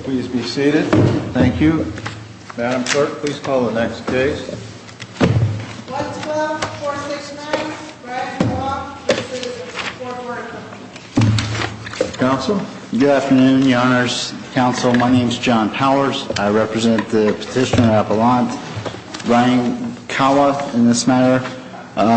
Please be seated. Thank you. Madam Clerk, please call the next case. 112469, Brian Kawa v. Workers' Comp'n. Council. Good afternoon, Your Honors. Council, my name is John Powers. I represent the petitioner at Avalon, Brian Kawa, in this matter.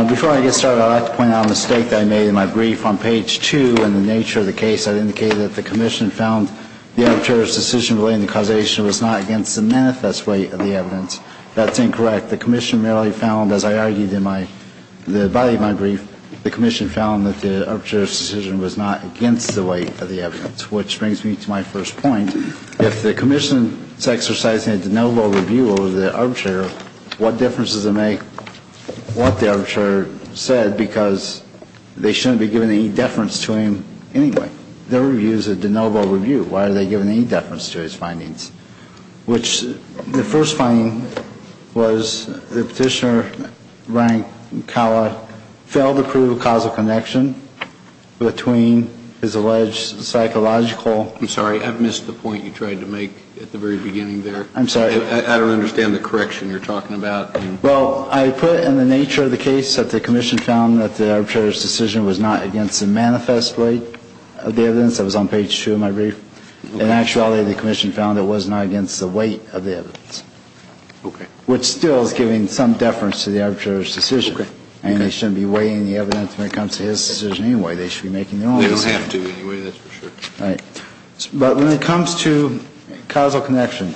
Before I get started, I'd like to point out a mistake that I made in my brief. On page 2, in the nature of the case, I indicated that the commission found the arbitrator's decision relating to causation was not against the manifest weight of the evidence. That's incorrect. The commission merely found, as I argued in the body of my brief, the commission found that the arbitrator's decision was not against the weight of the evidence, which brings me to my first point. If the commission is exercising a de novo review over the arbitrator, what difference does it make what the arbitrator said? Because they shouldn't be giving any deference to him anyway. Their review is a de novo review. Why are they giving any deference to his findings? Which, the first finding was the petitioner, Brian Kawa, failed to prove a causal connection between his alleged psychological... I'm sorry, I missed the point you tried to make at the very beginning there. I'm sorry. I don't understand the correction you're talking about. Well, I put in the nature of the case that the commission found that the arbitrator's decision was not against the manifest weight of the evidence. That was on page two of my brief. In actuality, the commission found it was not against the weight of the evidence. Okay. Which still is giving some deference to the arbitrator's decision. Okay. And they shouldn't be weighing the evidence when it comes to his decision anyway. They should be making their own decision. They don't have to anyway, that's for sure. But when it comes to causal connection,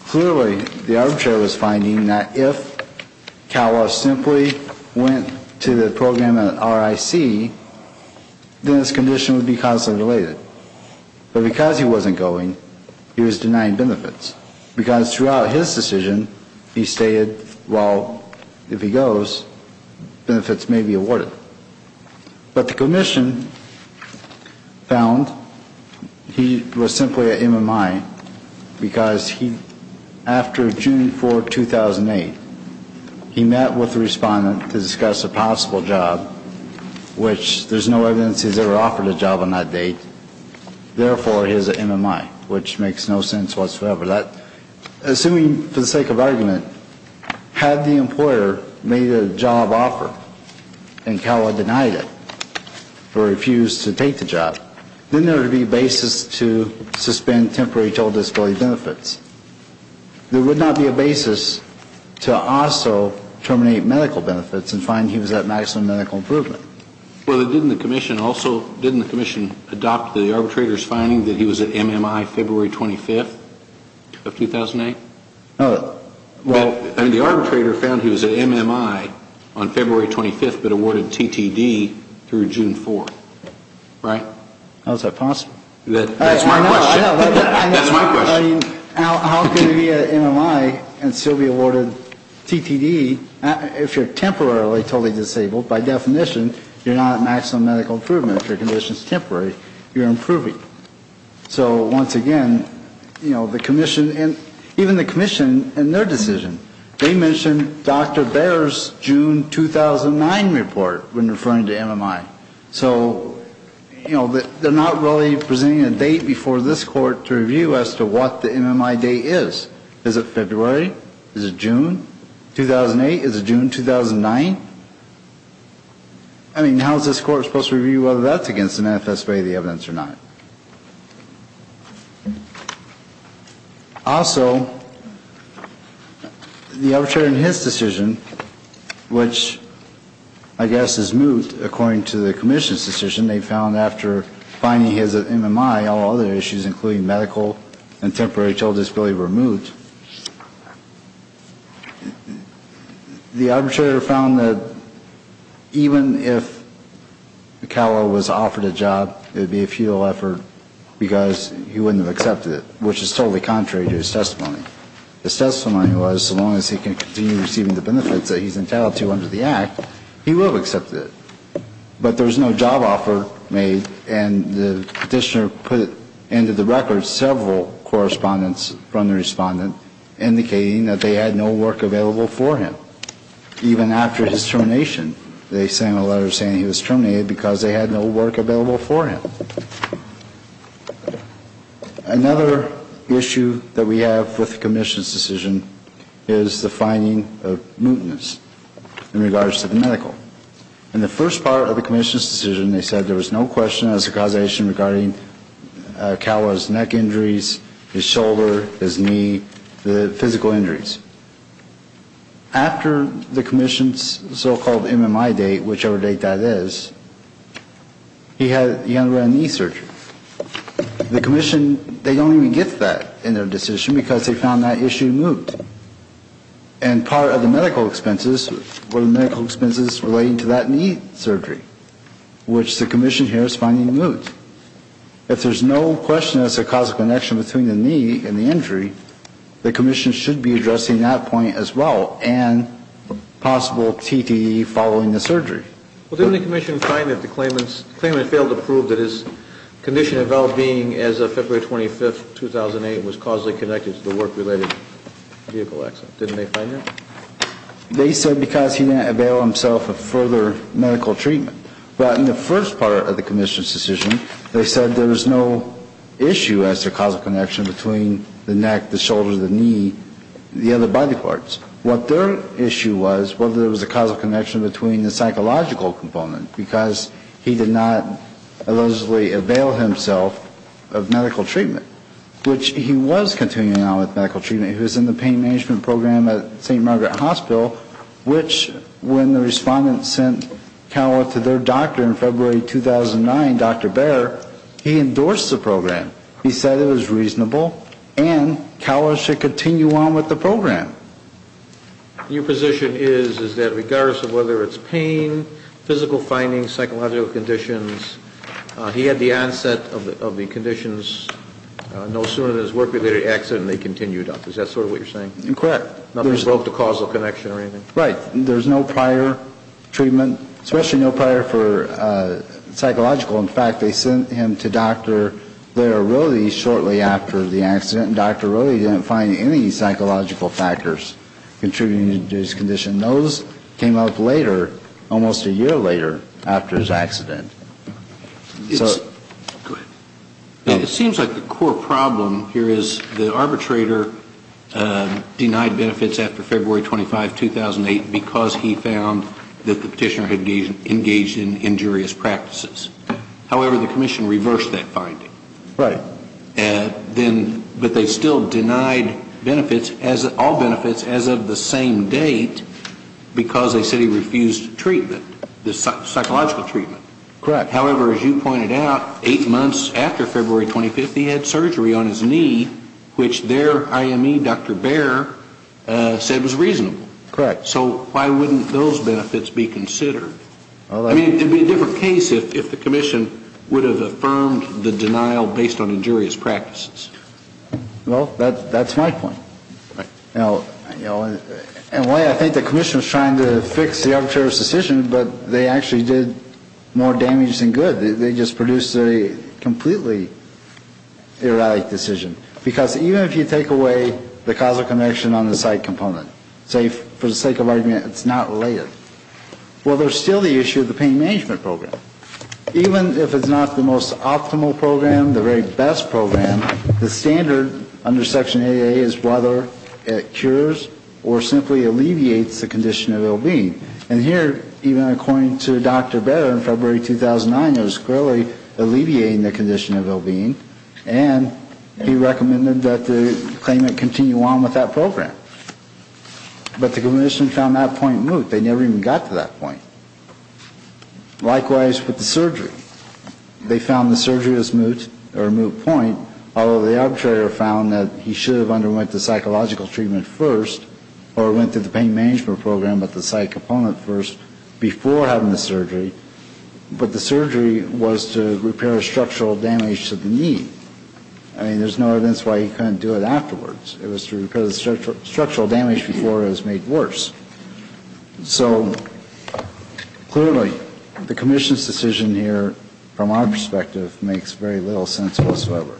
clearly the arbitrator was finding that if Kawa simply went to the program at RIC, then his condition would be constantly related. But because he wasn't going, he was denying benefits. Because throughout his decision, he stated, well, if he goes, benefits may be awarded. But the commission found he was simply an MMI, because he, after June 4, 2008, he met with the respondent to discuss a possible job, which there's no evidence he's ever offered a job on that date. Therefore, he's an MMI, which makes no sense whatsoever. Assuming, for the sake of argument, had the employer made a job offer, and Kawa denied it, or refused to take the job, then there would be a basis to suspend temporary total disability benefits. There would not be a basis to also terminate medical benefits and find he was at maximum medical improvement. Well, didn't the commission also, didn't the commission adopt the arbitrator's finding that he was at MMI February 25th of 2008? No. Well, I mean, the arbitrator found he was at MMI on February 25th, but awarded TTD through June 4th, right? How is that possible? That's my question. I know, I know. That's my question. I mean, how can he be at MMI and still be awarded TTD if you're temporarily totally disabled? By definition, you're not at maximum medical improvement. If your condition is temporary, you're improving. So, once again, you know, the commission, and even the commission in their decision, they mentioned Dr. Baer's June 2009 report when referring to MMI. So, you know, they're not really presenting a date before this court to review as to what the MMI date is. Is it February? Is it June 2008? Is it June 2009? I mean, how is this court supposed to review whether that's against the NFS way of the evidence or not? Also, the arbitrator in his decision, which I guess is moved according to the commission's decision, they found after finding his MMI, all other issues including medical and temporary total disability were moved. The arbitrator found that even if Calo was offered a job, it would be a futile effort because he wouldn't have accepted it, which is totally contrary to his testimony. His testimony was so long as he can continue receiving the benefits that he's entitled to under the act, he will accept it. But there was no job offer made, and the petitioner put into the record several correspondence from the respondents indicating that they had no work available for him, even after his termination. They sent a letter saying he was terminated because they had no work available for him. Another issue that we have with the commission's decision is the finding of mootness in regards to the medical. In the first part of the commission's decision, they said there was no question as to causation regarding Calo's neck injuries, his shoulder, his knee, the physical injuries. After the commission's so-called MMI date, whichever date that is, he had a knee surgery. The commission, they don't even get that in their decision because they found that issue moot. And part of the medical expenses were the medical expenses relating to that knee surgery, which the commission here is finding moot. If there's no question as to the causal connection between the knee and the injury, the commission should be addressing that point as well, and a possible TTE following the surgery. Well, didn't the commission find that the claimant failed to prove that his condition of well-being as of February 25, 2008, was causally connected to the work-related vehicle accident? Didn't they find that? They said because he didn't avail himself of further medical treatment. But in the first part of the commission's decision, they said there was no issue as to causal connection between the neck, the shoulder, the knee, the other body parts. What their issue was was whether there was a causal connection between the psychological component because he did not allegedly avail himself of medical treatment, which he was continuing on with medical treatment. He was in the pain management program at St. Margaret Hospital, which when the respondent sent Cowell to their doctor in February 2009, Dr. Bair, he endorsed the program. He said it was reasonable, and Cowell should continue on with the program. Your position is, is that regardless of whether it's pain, physical findings, psychological conditions, he had the onset of the conditions no sooner than his work-related accident, and they continued on. Is that sort of what you're saying? Correct. Nothing provoked a causal connection or anything? Right. There's no prior treatment, especially no prior for psychological. In fact, they sent him to Dr. Blair Rode shortly after the accident, and Dr. Rode didn't find any psychological factors contributing to his condition. Those came up later, almost a year later after his accident. Go ahead. It seems like the core problem here is the arbitrator denied benefits after February 25, 2008, because he found that the petitioner had engaged in injurious practices. However, the commission reversed that finding. Right. But they still denied benefits, all benefits, as of the same date, because they said he refused treatment, psychological treatment. Correct. However, as you pointed out, eight months after February 25, he had surgery on his knee, which their IME, Dr. Blair, said was reasonable. Correct. So why wouldn't those benefits be considered? I mean, it would be a different case if the commission would have affirmed the denial based on injurious practices. Well, that's my point. You know, in a way, I think the commission was trying to fix the arbitrator's decision, but they actually did more damage than good. They just produced a completely erratic decision. Because even if you take away the causal connection on the site component, say, for the sake of argument, it's not related. Well, there's still the issue of the pain management program. Even if it's not the most optimal program, the very best program, the standard under Section 8A is whether it cures or simply alleviates the condition of ill-being. And here, even according to Dr. Blair in February 2009, it was clearly alleviating the condition of ill-being, and he recommended that the claimant continue on with that program. But the commission found that point moot. But they never even got to that point. Likewise with the surgery. They found the surgery was moot or moot point, although the arbitrator found that he should have underwent the psychological treatment first or went through the pain management program with the site component first before having the surgery. But the surgery was to repair structural damage to the knee. I mean, there's no evidence why he couldn't do it afterwards. It was to repair the structural damage before it was made worse. So clearly the commission's decision here, from our perspective, makes very little sense whatsoever.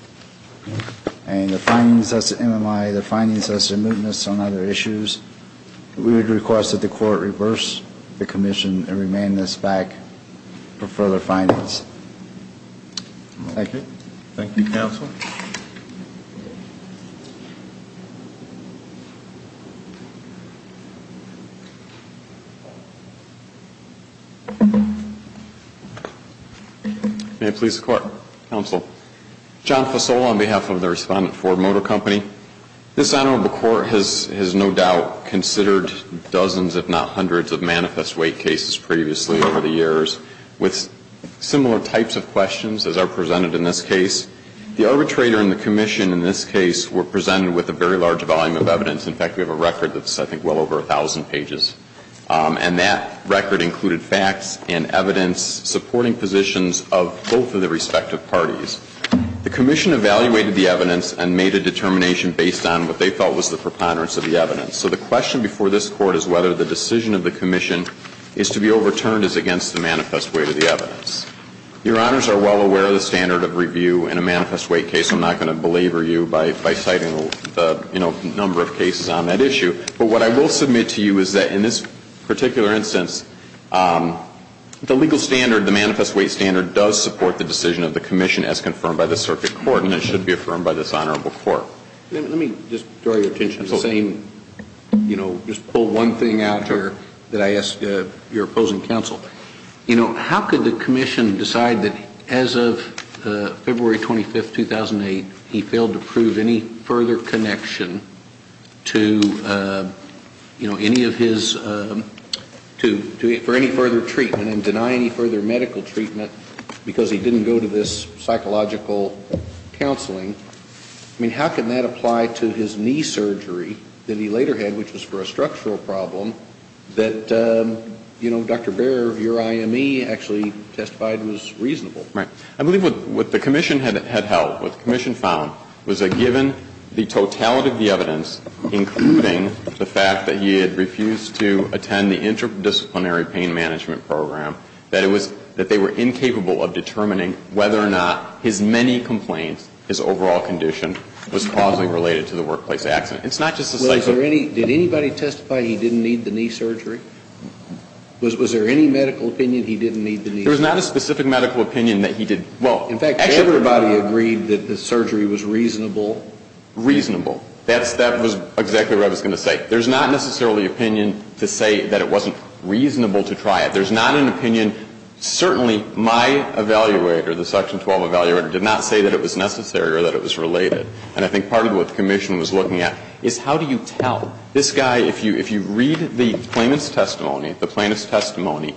And the findings as to MMI, the findings as to mootness on other issues, we would request that the court reverse the commission and remand this back for further findings. Thank you. Thank you, counsel. May it please the Court. Counsel. John Fasola on behalf of the respondent, Ford Motor Company. This honorable court has no doubt considered dozens if not hundreds of manifest weight cases previously over the years with similar types of questions as are presented in this case. The arbitrator and the commission in this case were presented with a very large volume of evidence. In fact, we have a record that's, I think, well over 1,000 pages. And that record included facts and evidence supporting positions of both of the respective parties. The commission evaluated the evidence and made a determination based on what they felt was the preponderance of the evidence. So the question before this Court is whether the decision of the commission is to be overturned as against the manifest weight of the evidence. Your Honors are well aware of the standard of review in a manifest weight case. I'm not going to belabor you by citing the, you know, number of cases on that issue. But what I will submit to you is that in this particular instance, the legal standard, the manifest weight standard does support the decision of the commission as confirmed by the circuit court and it should be affirmed by this honorable court. Let me just draw your attention to the same, you know, just pull one thing out here that I ask your opposing counsel. You know, how could the commission decide that as of February 25th, 2008, he failed to prove any further connection to, you know, any of his, to, for any further treatment and deny any further medical treatment because he didn't go to this psychological counseling? I mean, how can that apply to his knee surgery that he later had, which was for a structural problem, that, you know, Dr. Baer of your IME actually testified was reasonable? Right. I believe what the commission had held, what the commission found was that given the totality of the evidence, including the fact that he had refused to attend the interdisciplinary pain management program, that it was, that they were incapable of determining whether or not his many complaints, his overall condition, was causally related to the workplace accident. It's not just a psychological. Well, is there any, did anybody testify he didn't need the knee surgery? Was there any medical opinion he didn't need the knee surgery? There was not a specific medical opinion that he did. Well, in fact, everybody agreed that the surgery was reasonable. Reasonable. That's, that was exactly what I was going to say. There's not necessarily opinion to say that it wasn't reasonable to try it. There's not an opinion. Certainly, my evaluator, the Section 12 evaluator, did not say that it was necessary or that it was related. And I think part of what the commission was looking at is how do you tell? This guy, if you read the plaintiff's testimony, the plaintiff's testimony,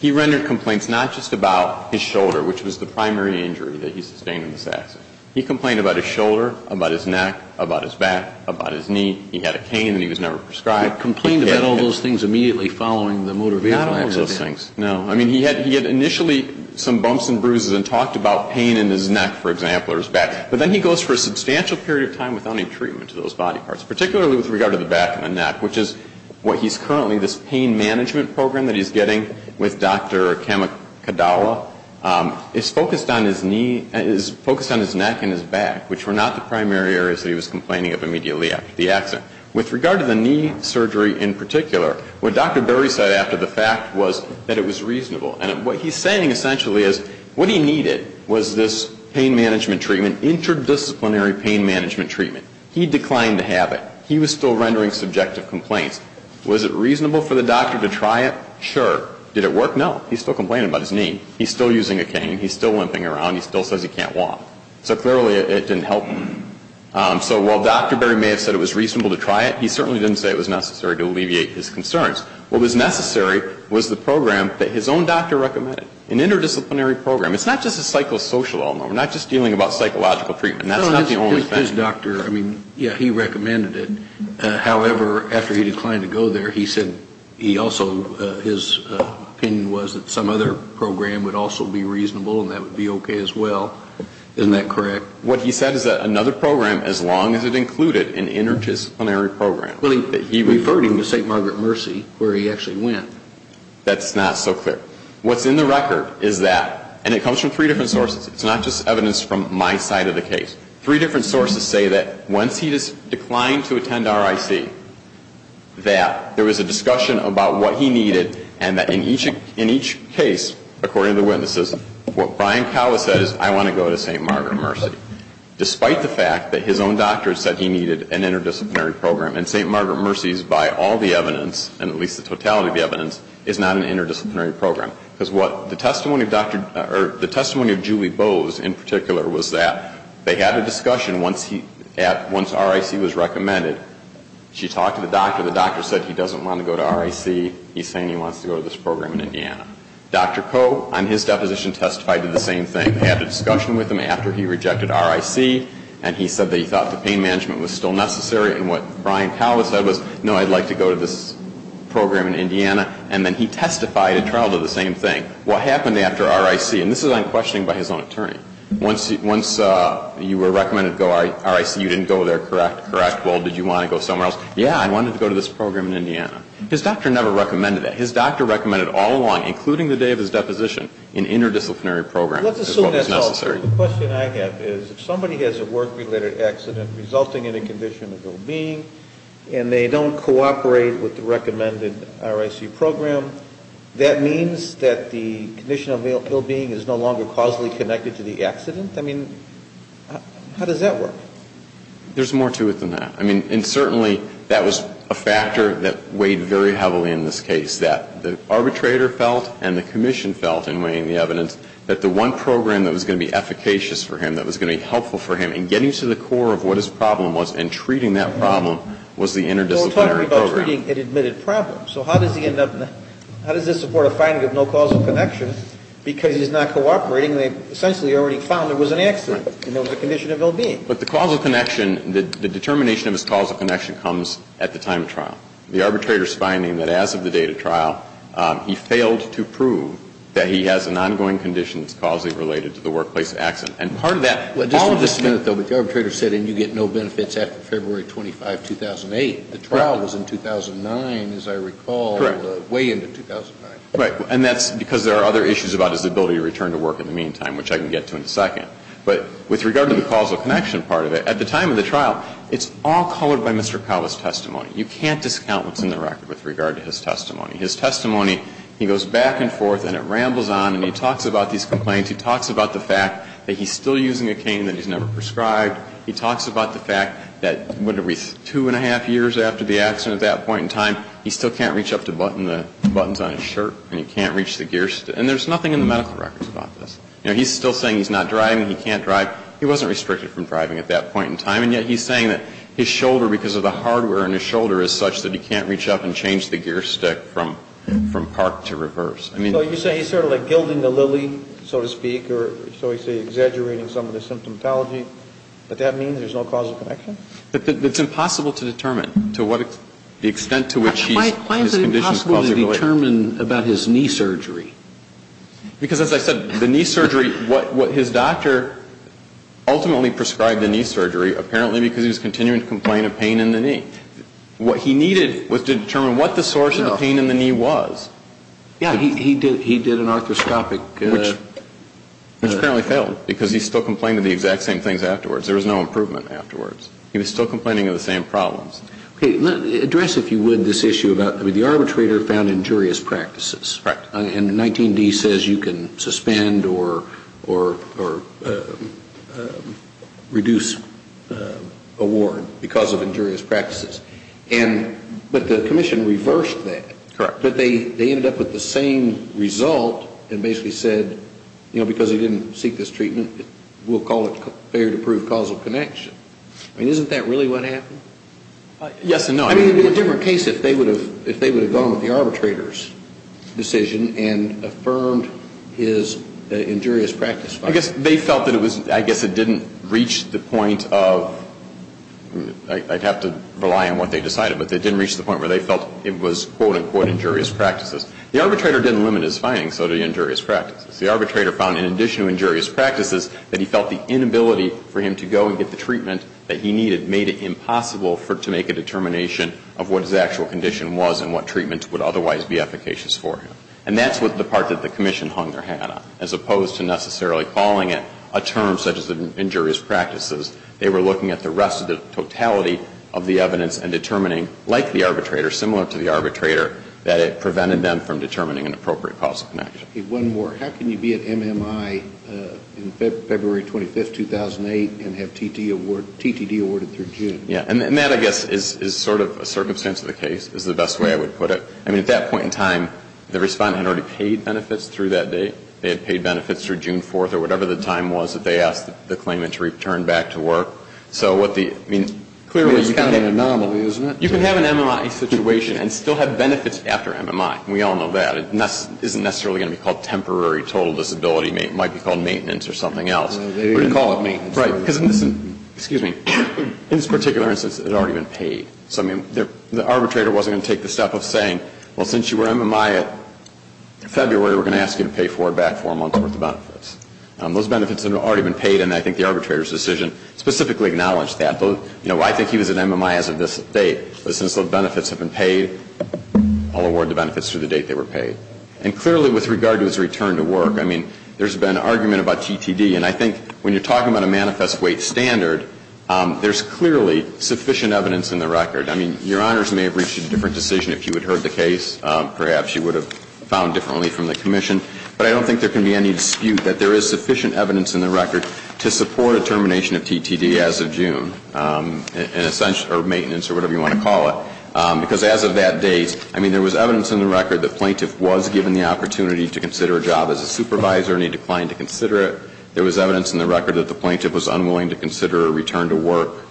he rendered complaints not just about his shoulder, which was the primary injury that he sustained in this accident. He complained about his shoulder, about his neck, about his back, about his knee. He had a cane and he was never prescribed. He complained about all those things immediately following the motor vehicle accident. Not all those things. No. I mean, he had initially some bumps and bruises and talked about pain in his neck, for example, or his back. But then he goes for a substantial period of time without any treatment to those body parts, particularly with regard to the back and the neck, which is what he's currently, this pain management program that he's getting with Dr. Kamikadawa, is focused on his knee, is focused on his neck and his back, which were not the primary areas that he was complaining of immediately after the accident. With regard to the knee surgery in particular, what Dr. Berry said after the fact was that it was reasonable. And what he's saying essentially is what he needed was this pain management treatment, interdisciplinary pain management treatment. He declined to have it. He was still rendering subjective complaints. Was it reasonable for the doctor to try it? Sure. Did it work? No. He's still complaining about his knee. He's still using a cane. He's still limping around. He still says he can't walk. So clearly it didn't help him. So while Dr. Berry may have said it was reasonable to try it, he certainly didn't say it was necessary to alleviate his concerns. What was necessary was the program that his own doctor recommended, an interdisciplinary program. It's not just a psychosocial one. We're not just dealing about psychological treatment. That's not the only thing. His doctor, I mean, yeah, he recommended it. However, after he declined to go there, he said he also, his opinion was that some other program would also be reasonable and that would be okay as well. Isn't that correct? What he said is that another program, as long as it included an interdisciplinary program. But he referred him to St. Margaret Mercy, where he actually went. That's not so clear. What's in the record is that, and it comes from three different sources. It's not just evidence from my side of the case. Three different sources say that once he declined to attend RIC, that there was a discussion about what he needed and that in each case, according to the witnesses, what Brian Cowa said is, I want to go to St. Margaret Mercy, despite the fact that his own doctor said he needed an interdisciplinary program. And St. Margaret Mercy is, by all the evidence, and at least the totality of the evidence, is not an interdisciplinary program. Because what the testimony of Julie Bowes in particular was that they had a discussion once RIC was recommended. She talked to the doctor. The doctor said he doesn't want to go to RIC. He's saying he wants to go to this program in Indiana. Dr. Coe, on his deposition, testified to the same thing. They had a discussion with him after he rejected RIC. And he said that he thought the pain management was still necessary. And what Brian Cowa said was, no, I'd like to go to this program in Indiana. And then he testified in trial to the same thing. What happened after RIC? And this is unquestioning by his own attorney. Once you were recommended to go to RIC, you didn't go there, correct? Correct. Yeah, I wanted to go to this program in Indiana. His doctor never recommended that. His doctor recommended all along, including the day of his deposition, an interdisciplinary program. Let's assume that's all. The question I have is, if somebody has a work-related accident resulting in a condition of ill-being, and they don't cooperate with the recommended RIC program, that means that the condition of ill-being is no longer causally connected to the accident? I mean, how does that work? There's more to it than that. I mean, and certainly that was a factor that weighed very heavily in this case, that the arbitrator felt and the commission felt, in weighing the evidence, that the one program that was going to be efficacious for him, that was going to be helpful for him in getting to the core of what his problem was and treating that problem was the interdisciplinary program. But we're talking about treating an admitted problem. So how does this support a finding of no causal connection? Because he's not cooperating, they've essentially already found there was an accident and there was a condition of ill-being. But the causal connection, the determination of his causal connection comes at the time of trial. The arbitrator's finding that as of the date of trial, he failed to prove that he has an ongoing condition that's causally related to the workplace accident. And part of that, all of this ---- Just a minute, though. But the arbitrator said, and you get no benefits after February 25, 2008. The trial was in 2009, as I recall. Correct. Way into 2009. Right. And that's because there are other issues about his ability to return to work in the meantime, which I can get to in a second. But with regard to the causal connection part of it, at the time of the trial, it's all colored by Mr. Calva's testimony. You can't discount what's in the record with regard to his testimony. His testimony, he goes back and forth and it rambles on and he talks about these complaints. He talks about the fact that he's still using a cane that he's never prescribed. He talks about the fact that, what, two and a half years after the accident at that point in time, he still can't reach up to button the buttons on his shirt and he can't reach the gears. And there's nothing in the medical records about this. You know, he's still saying he's not driving, he can't drive. He wasn't restricted from driving at that point in time. And yet he's saying that his shoulder, because of the hardware in his shoulder, is such that he can't reach up and change the gear stick from park to reverse. So you're saying he's sort of like gilding the lily, so to speak, or so you say exaggerating some of the symptomatology. But that means there's no causal connection? It's impossible to determine to what extent to which his condition is causally related. Why is it impossible to determine about his knee surgery? Because, as I said, the knee surgery, what his doctor ultimately prescribed the knee surgery, apparently because he was continuing to complain of pain in the knee. What he needed was to determine what the source of the pain in the knee was. Yeah. He did an arthroscopic. Which apparently failed, because he still complained of the exact same things afterwards. There was no improvement afterwards. He was still complaining of the same problems. Okay. Address, if you would, this issue about the arbitrator found injurious practices. Correct. And 19D says you can suspend or reduce a ward because of injurious practices. But the commission reversed that. Correct. But they ended up with the same result and basically said, you know, because he didn't seek this treatment, we'll call it failure to prove causal connection. I mean, isn't that really what happened? Yes and no. I mean, it would be a different case if they would have gone with the arbitrator's decision and affirmed his injurious practice findings. I guess they felt that it didn't reach the point of, I'd have to rely on what they decided, but they didn't reach the point where they felt it was, quote, unquote, injurious practices. The arbitrator didn't limit his findings, so did the injurious practices. The arbitrator found, in addition to injurious practices, that he felt the inability for him to go and get the treatment that he needed made it impossible to make a determination of what his actual condition was and what treatment would otherwise be efficacious for him. And that's the part that the commission hung their hat on, as opposed to necessarily calling it a term such as injurious practices. They were looking at the rest of the totality of the evidence and determining, like the arbitrator, similar to the arbitrator, that it prevented them from determining an appropriate causal connection. Okay, one more. How can you be at MMI in February 25th, 2008, and have TTD awarded through June? And that, I guess, is sort of a circumstance of the case, is the best way I would put it. I mean, at that point in time, the respondent had already paid benefits through that date. They had paid benefits through June 4th or whatever the time was that they asked the claimant to return back to work. So what the, I mean, clearly it's kind of an anomaly, isn't it? You can have an MMI situation and still have benefits after MMI. We all know that. It isn't necessarily going to be called temporary total disability. It might be called maintenance or something else. But you call it maintenance. Right, because in this particular instance, it had already been paid. So, I mean, the arbitrator wasn't going to take the step of saying, well, since you were MMI in February, we're going to ask you to pay forward back for a month's worth of benefits. Those benefits had already been paid, and I think the arbitrator's decision specifically acknowledged that. You know, I think he was at MMI as of this date. But since those benefits have been paid, I'll award the benefits through the date they were paid. And clearly with regard to his return to work, I mean, there's been argument about TTD. And I think when you're talking about a manifest weight standard, there's clearly sufficient evidence in the record. I mean, Your Honors may have reached a different decision if you had heard the case. Perhaps you would have found differently from the Commission. But I don't think there can be any dispute that there is sufficient evidence in the record to support a termination of TTD as of June. Or maintenance or whatever you want to call it. Because as of that date, I mean, there was evidence in the record that the plaintiff was given the opportunity to consider a job as a supervisor and he declined to consider it. There was evidence in the record that the plaintiff was unwilling to consider a return to work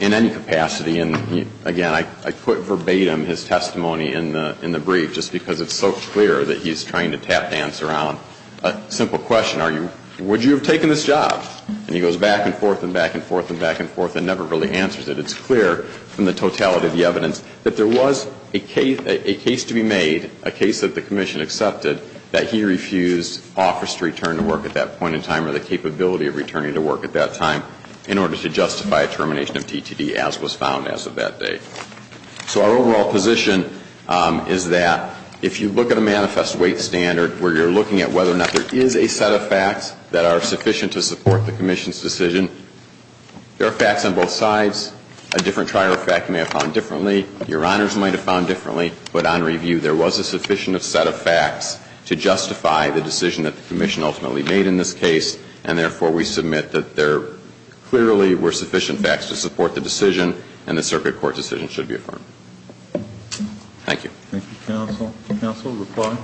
in any capacity. And, again, I put verbatim his testimony in the brief just because it's so clear that he's trying to tap dance around a simple question. Would you have taken this job? And he goes back and forth and back and forth and back and forth and never really answers it. It's clear from the totality of the evidence that there was a case to be made, a case that the Commission accepted, that he refused office to return to work at that point in time or the capability of returning to work at that time in order to justify a termination of TTD as was found as of that day. So our overall position is that if you look at a manifest weight standard where you're looking at whether or not there is a set of facts that are sufficient to support the Commission's decision, there are facts on both sides. A different trial fact may have found differently. Your Honors might have found differently. But on review, there was a sufficient set of facts to justify the decision that the Commission ultimately made in this case. And, therefore, we submit that there clearly were sufficient facts to support the decision and the circuit court decision should be affirmed. Thank you. Thank you, Counsel. Counsel, reply.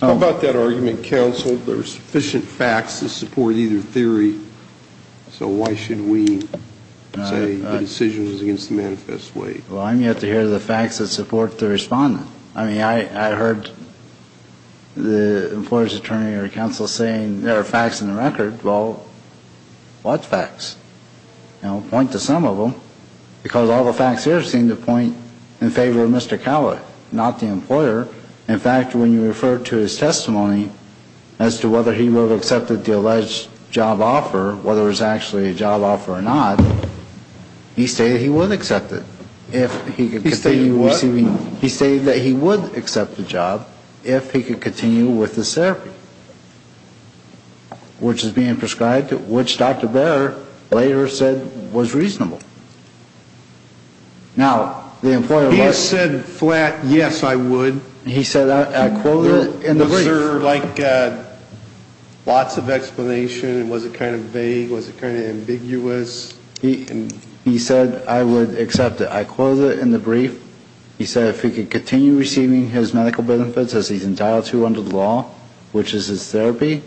How about that argument, Counsel, there were sufficient facts to support either theory, so why should we say the decision was against the manifest weight? Well, I'm yet to hear the facts that support the respondent. I mean, I heard the employer's attorney or counsel saying there are facts in the record. Well, what facts? I'll point to some of them because all the facts here seem to point in favor of Mr. Cowley, not the employer. In fact, when you refer to his testimony as to whether he would have accepted the alleged job offer, whether it was actually a job offer or not, he stated he wouldn't accept it. He stated he wouldn't? In fact, he stated that he would accept the job if he could continue with the therapy, which is being prescribed, which Dr. Barrett later said was reasonable. Now, the employer... He said flat, yes, I would. He said, I quote it in the brief. Was there, like, lots of explanation? Was it kind of vague? Was it kind of ambiguous? He said, I would accept it. I quote it in the brief. He said if he could continue receiving his medical benefits as he's entitled to under the law, which is his therapy,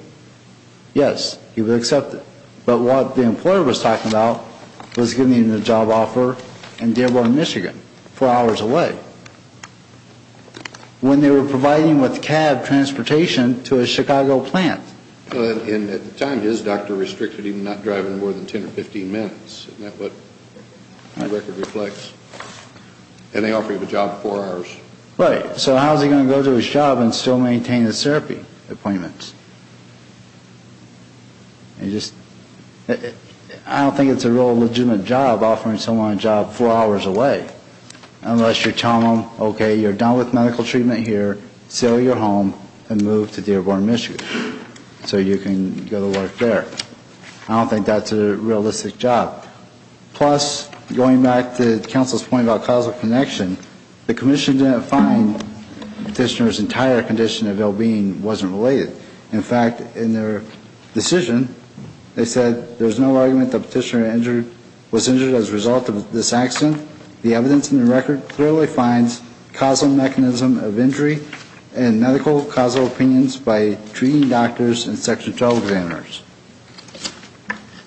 yes, he would accept it. But what the employer was talking about was giving him the job offer in Dearborn, Michigan, four hours away, when they were providing with cab transportation to a Chicago plant. And at the time, his doctor restricted him not driving more than 10 or 15 minutes. Isn't that what the record reflects? And they offered him a job four hours. Right. So how is he going to go to his job and still maintain his therapy appointments? You just... I don't think it's a real legitimate job offering someone a job four hours away, unless you're telling them, okay, you're done with medical treatment here, sell your home and move to Dearborn, Michigan, so you can go to work there. I don't think that's a realistic job. Plus, going back to counsel's point about causal connection, the commission didn't find the petitioner's entire condition of ill-being wasn't related. In fact, in their decision, they said there's no argument the petitioner was injured as a result of this accident. In addition, the evidence in the record clearly finds causal mechanism of injury and medical causal opinions by treating doctors and section 12 examiners.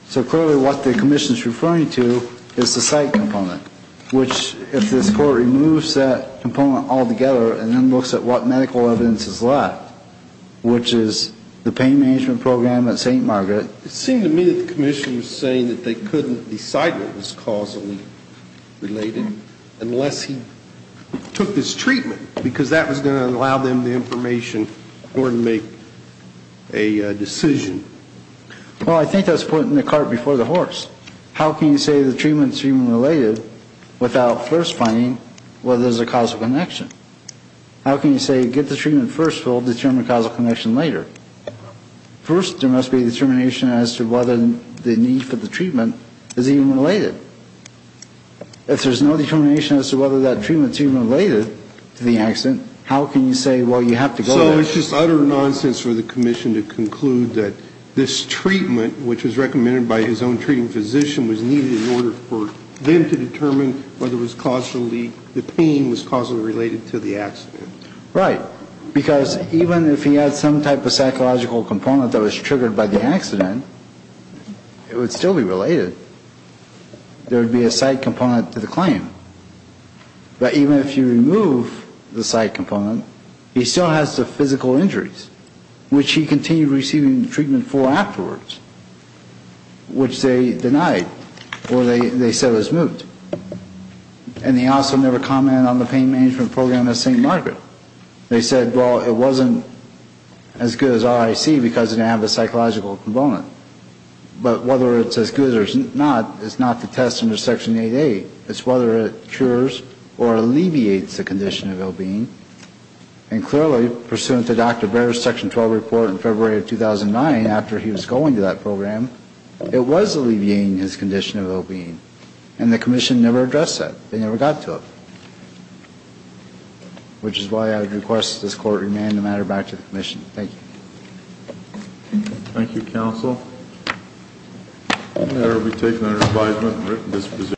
So clearly what the commission is referring to is the psych component, which, if this court removes that component altogether and then looks at what medical evidence is left, which is the pain management program at St. Margaret. It seemed to me that the commission was saying that they couldn't decide what was causally related unless he took this treatment, because that was going to allow them the information in order to make a decision. Well, I think that's putting the cart before the horse. How can you say the treatment's human-related without first finding whether there's a causal connection? How can you say get the treatment first, we'll determine the causal connection later? First, there must be a determination as to whether the need for the treatment is even related. If there's no determination as to whether that treatment's even related to the accident, how can you say, well, you have to go there? So it's just utter nonsense for the commission to conclude that this treatment, which was recommended by his own treating physician, was needed in order for them to determine whether the pain was causally related to the accident. Right. Because even if he had some type of psychological component that was triggered by the accident, it would still be related. There would be a side component to the claim. But even if you remove the side component, he still has the physical injuries, which he continued receiving treatment for afterwards, which they denied or they said was moot. And he also never commented on the pain management program at St. Margaret. They said, well, it wasn't as good as RIC because it didn't have the psychological component. But whether it's as good or not is not to test under Section 8A. It's whether it cures or alleviates the condition of ill-being. And clearly, pursuant to Dr. Baer's Section 12 report in February of 2009, after he was going to that program, it was alleviating his condition of ill-being. And the Commission never addressed that. They never got to it. Which is why I would request that this Court remand the matter back to the Commission. Thank you. Thank you, Counsel.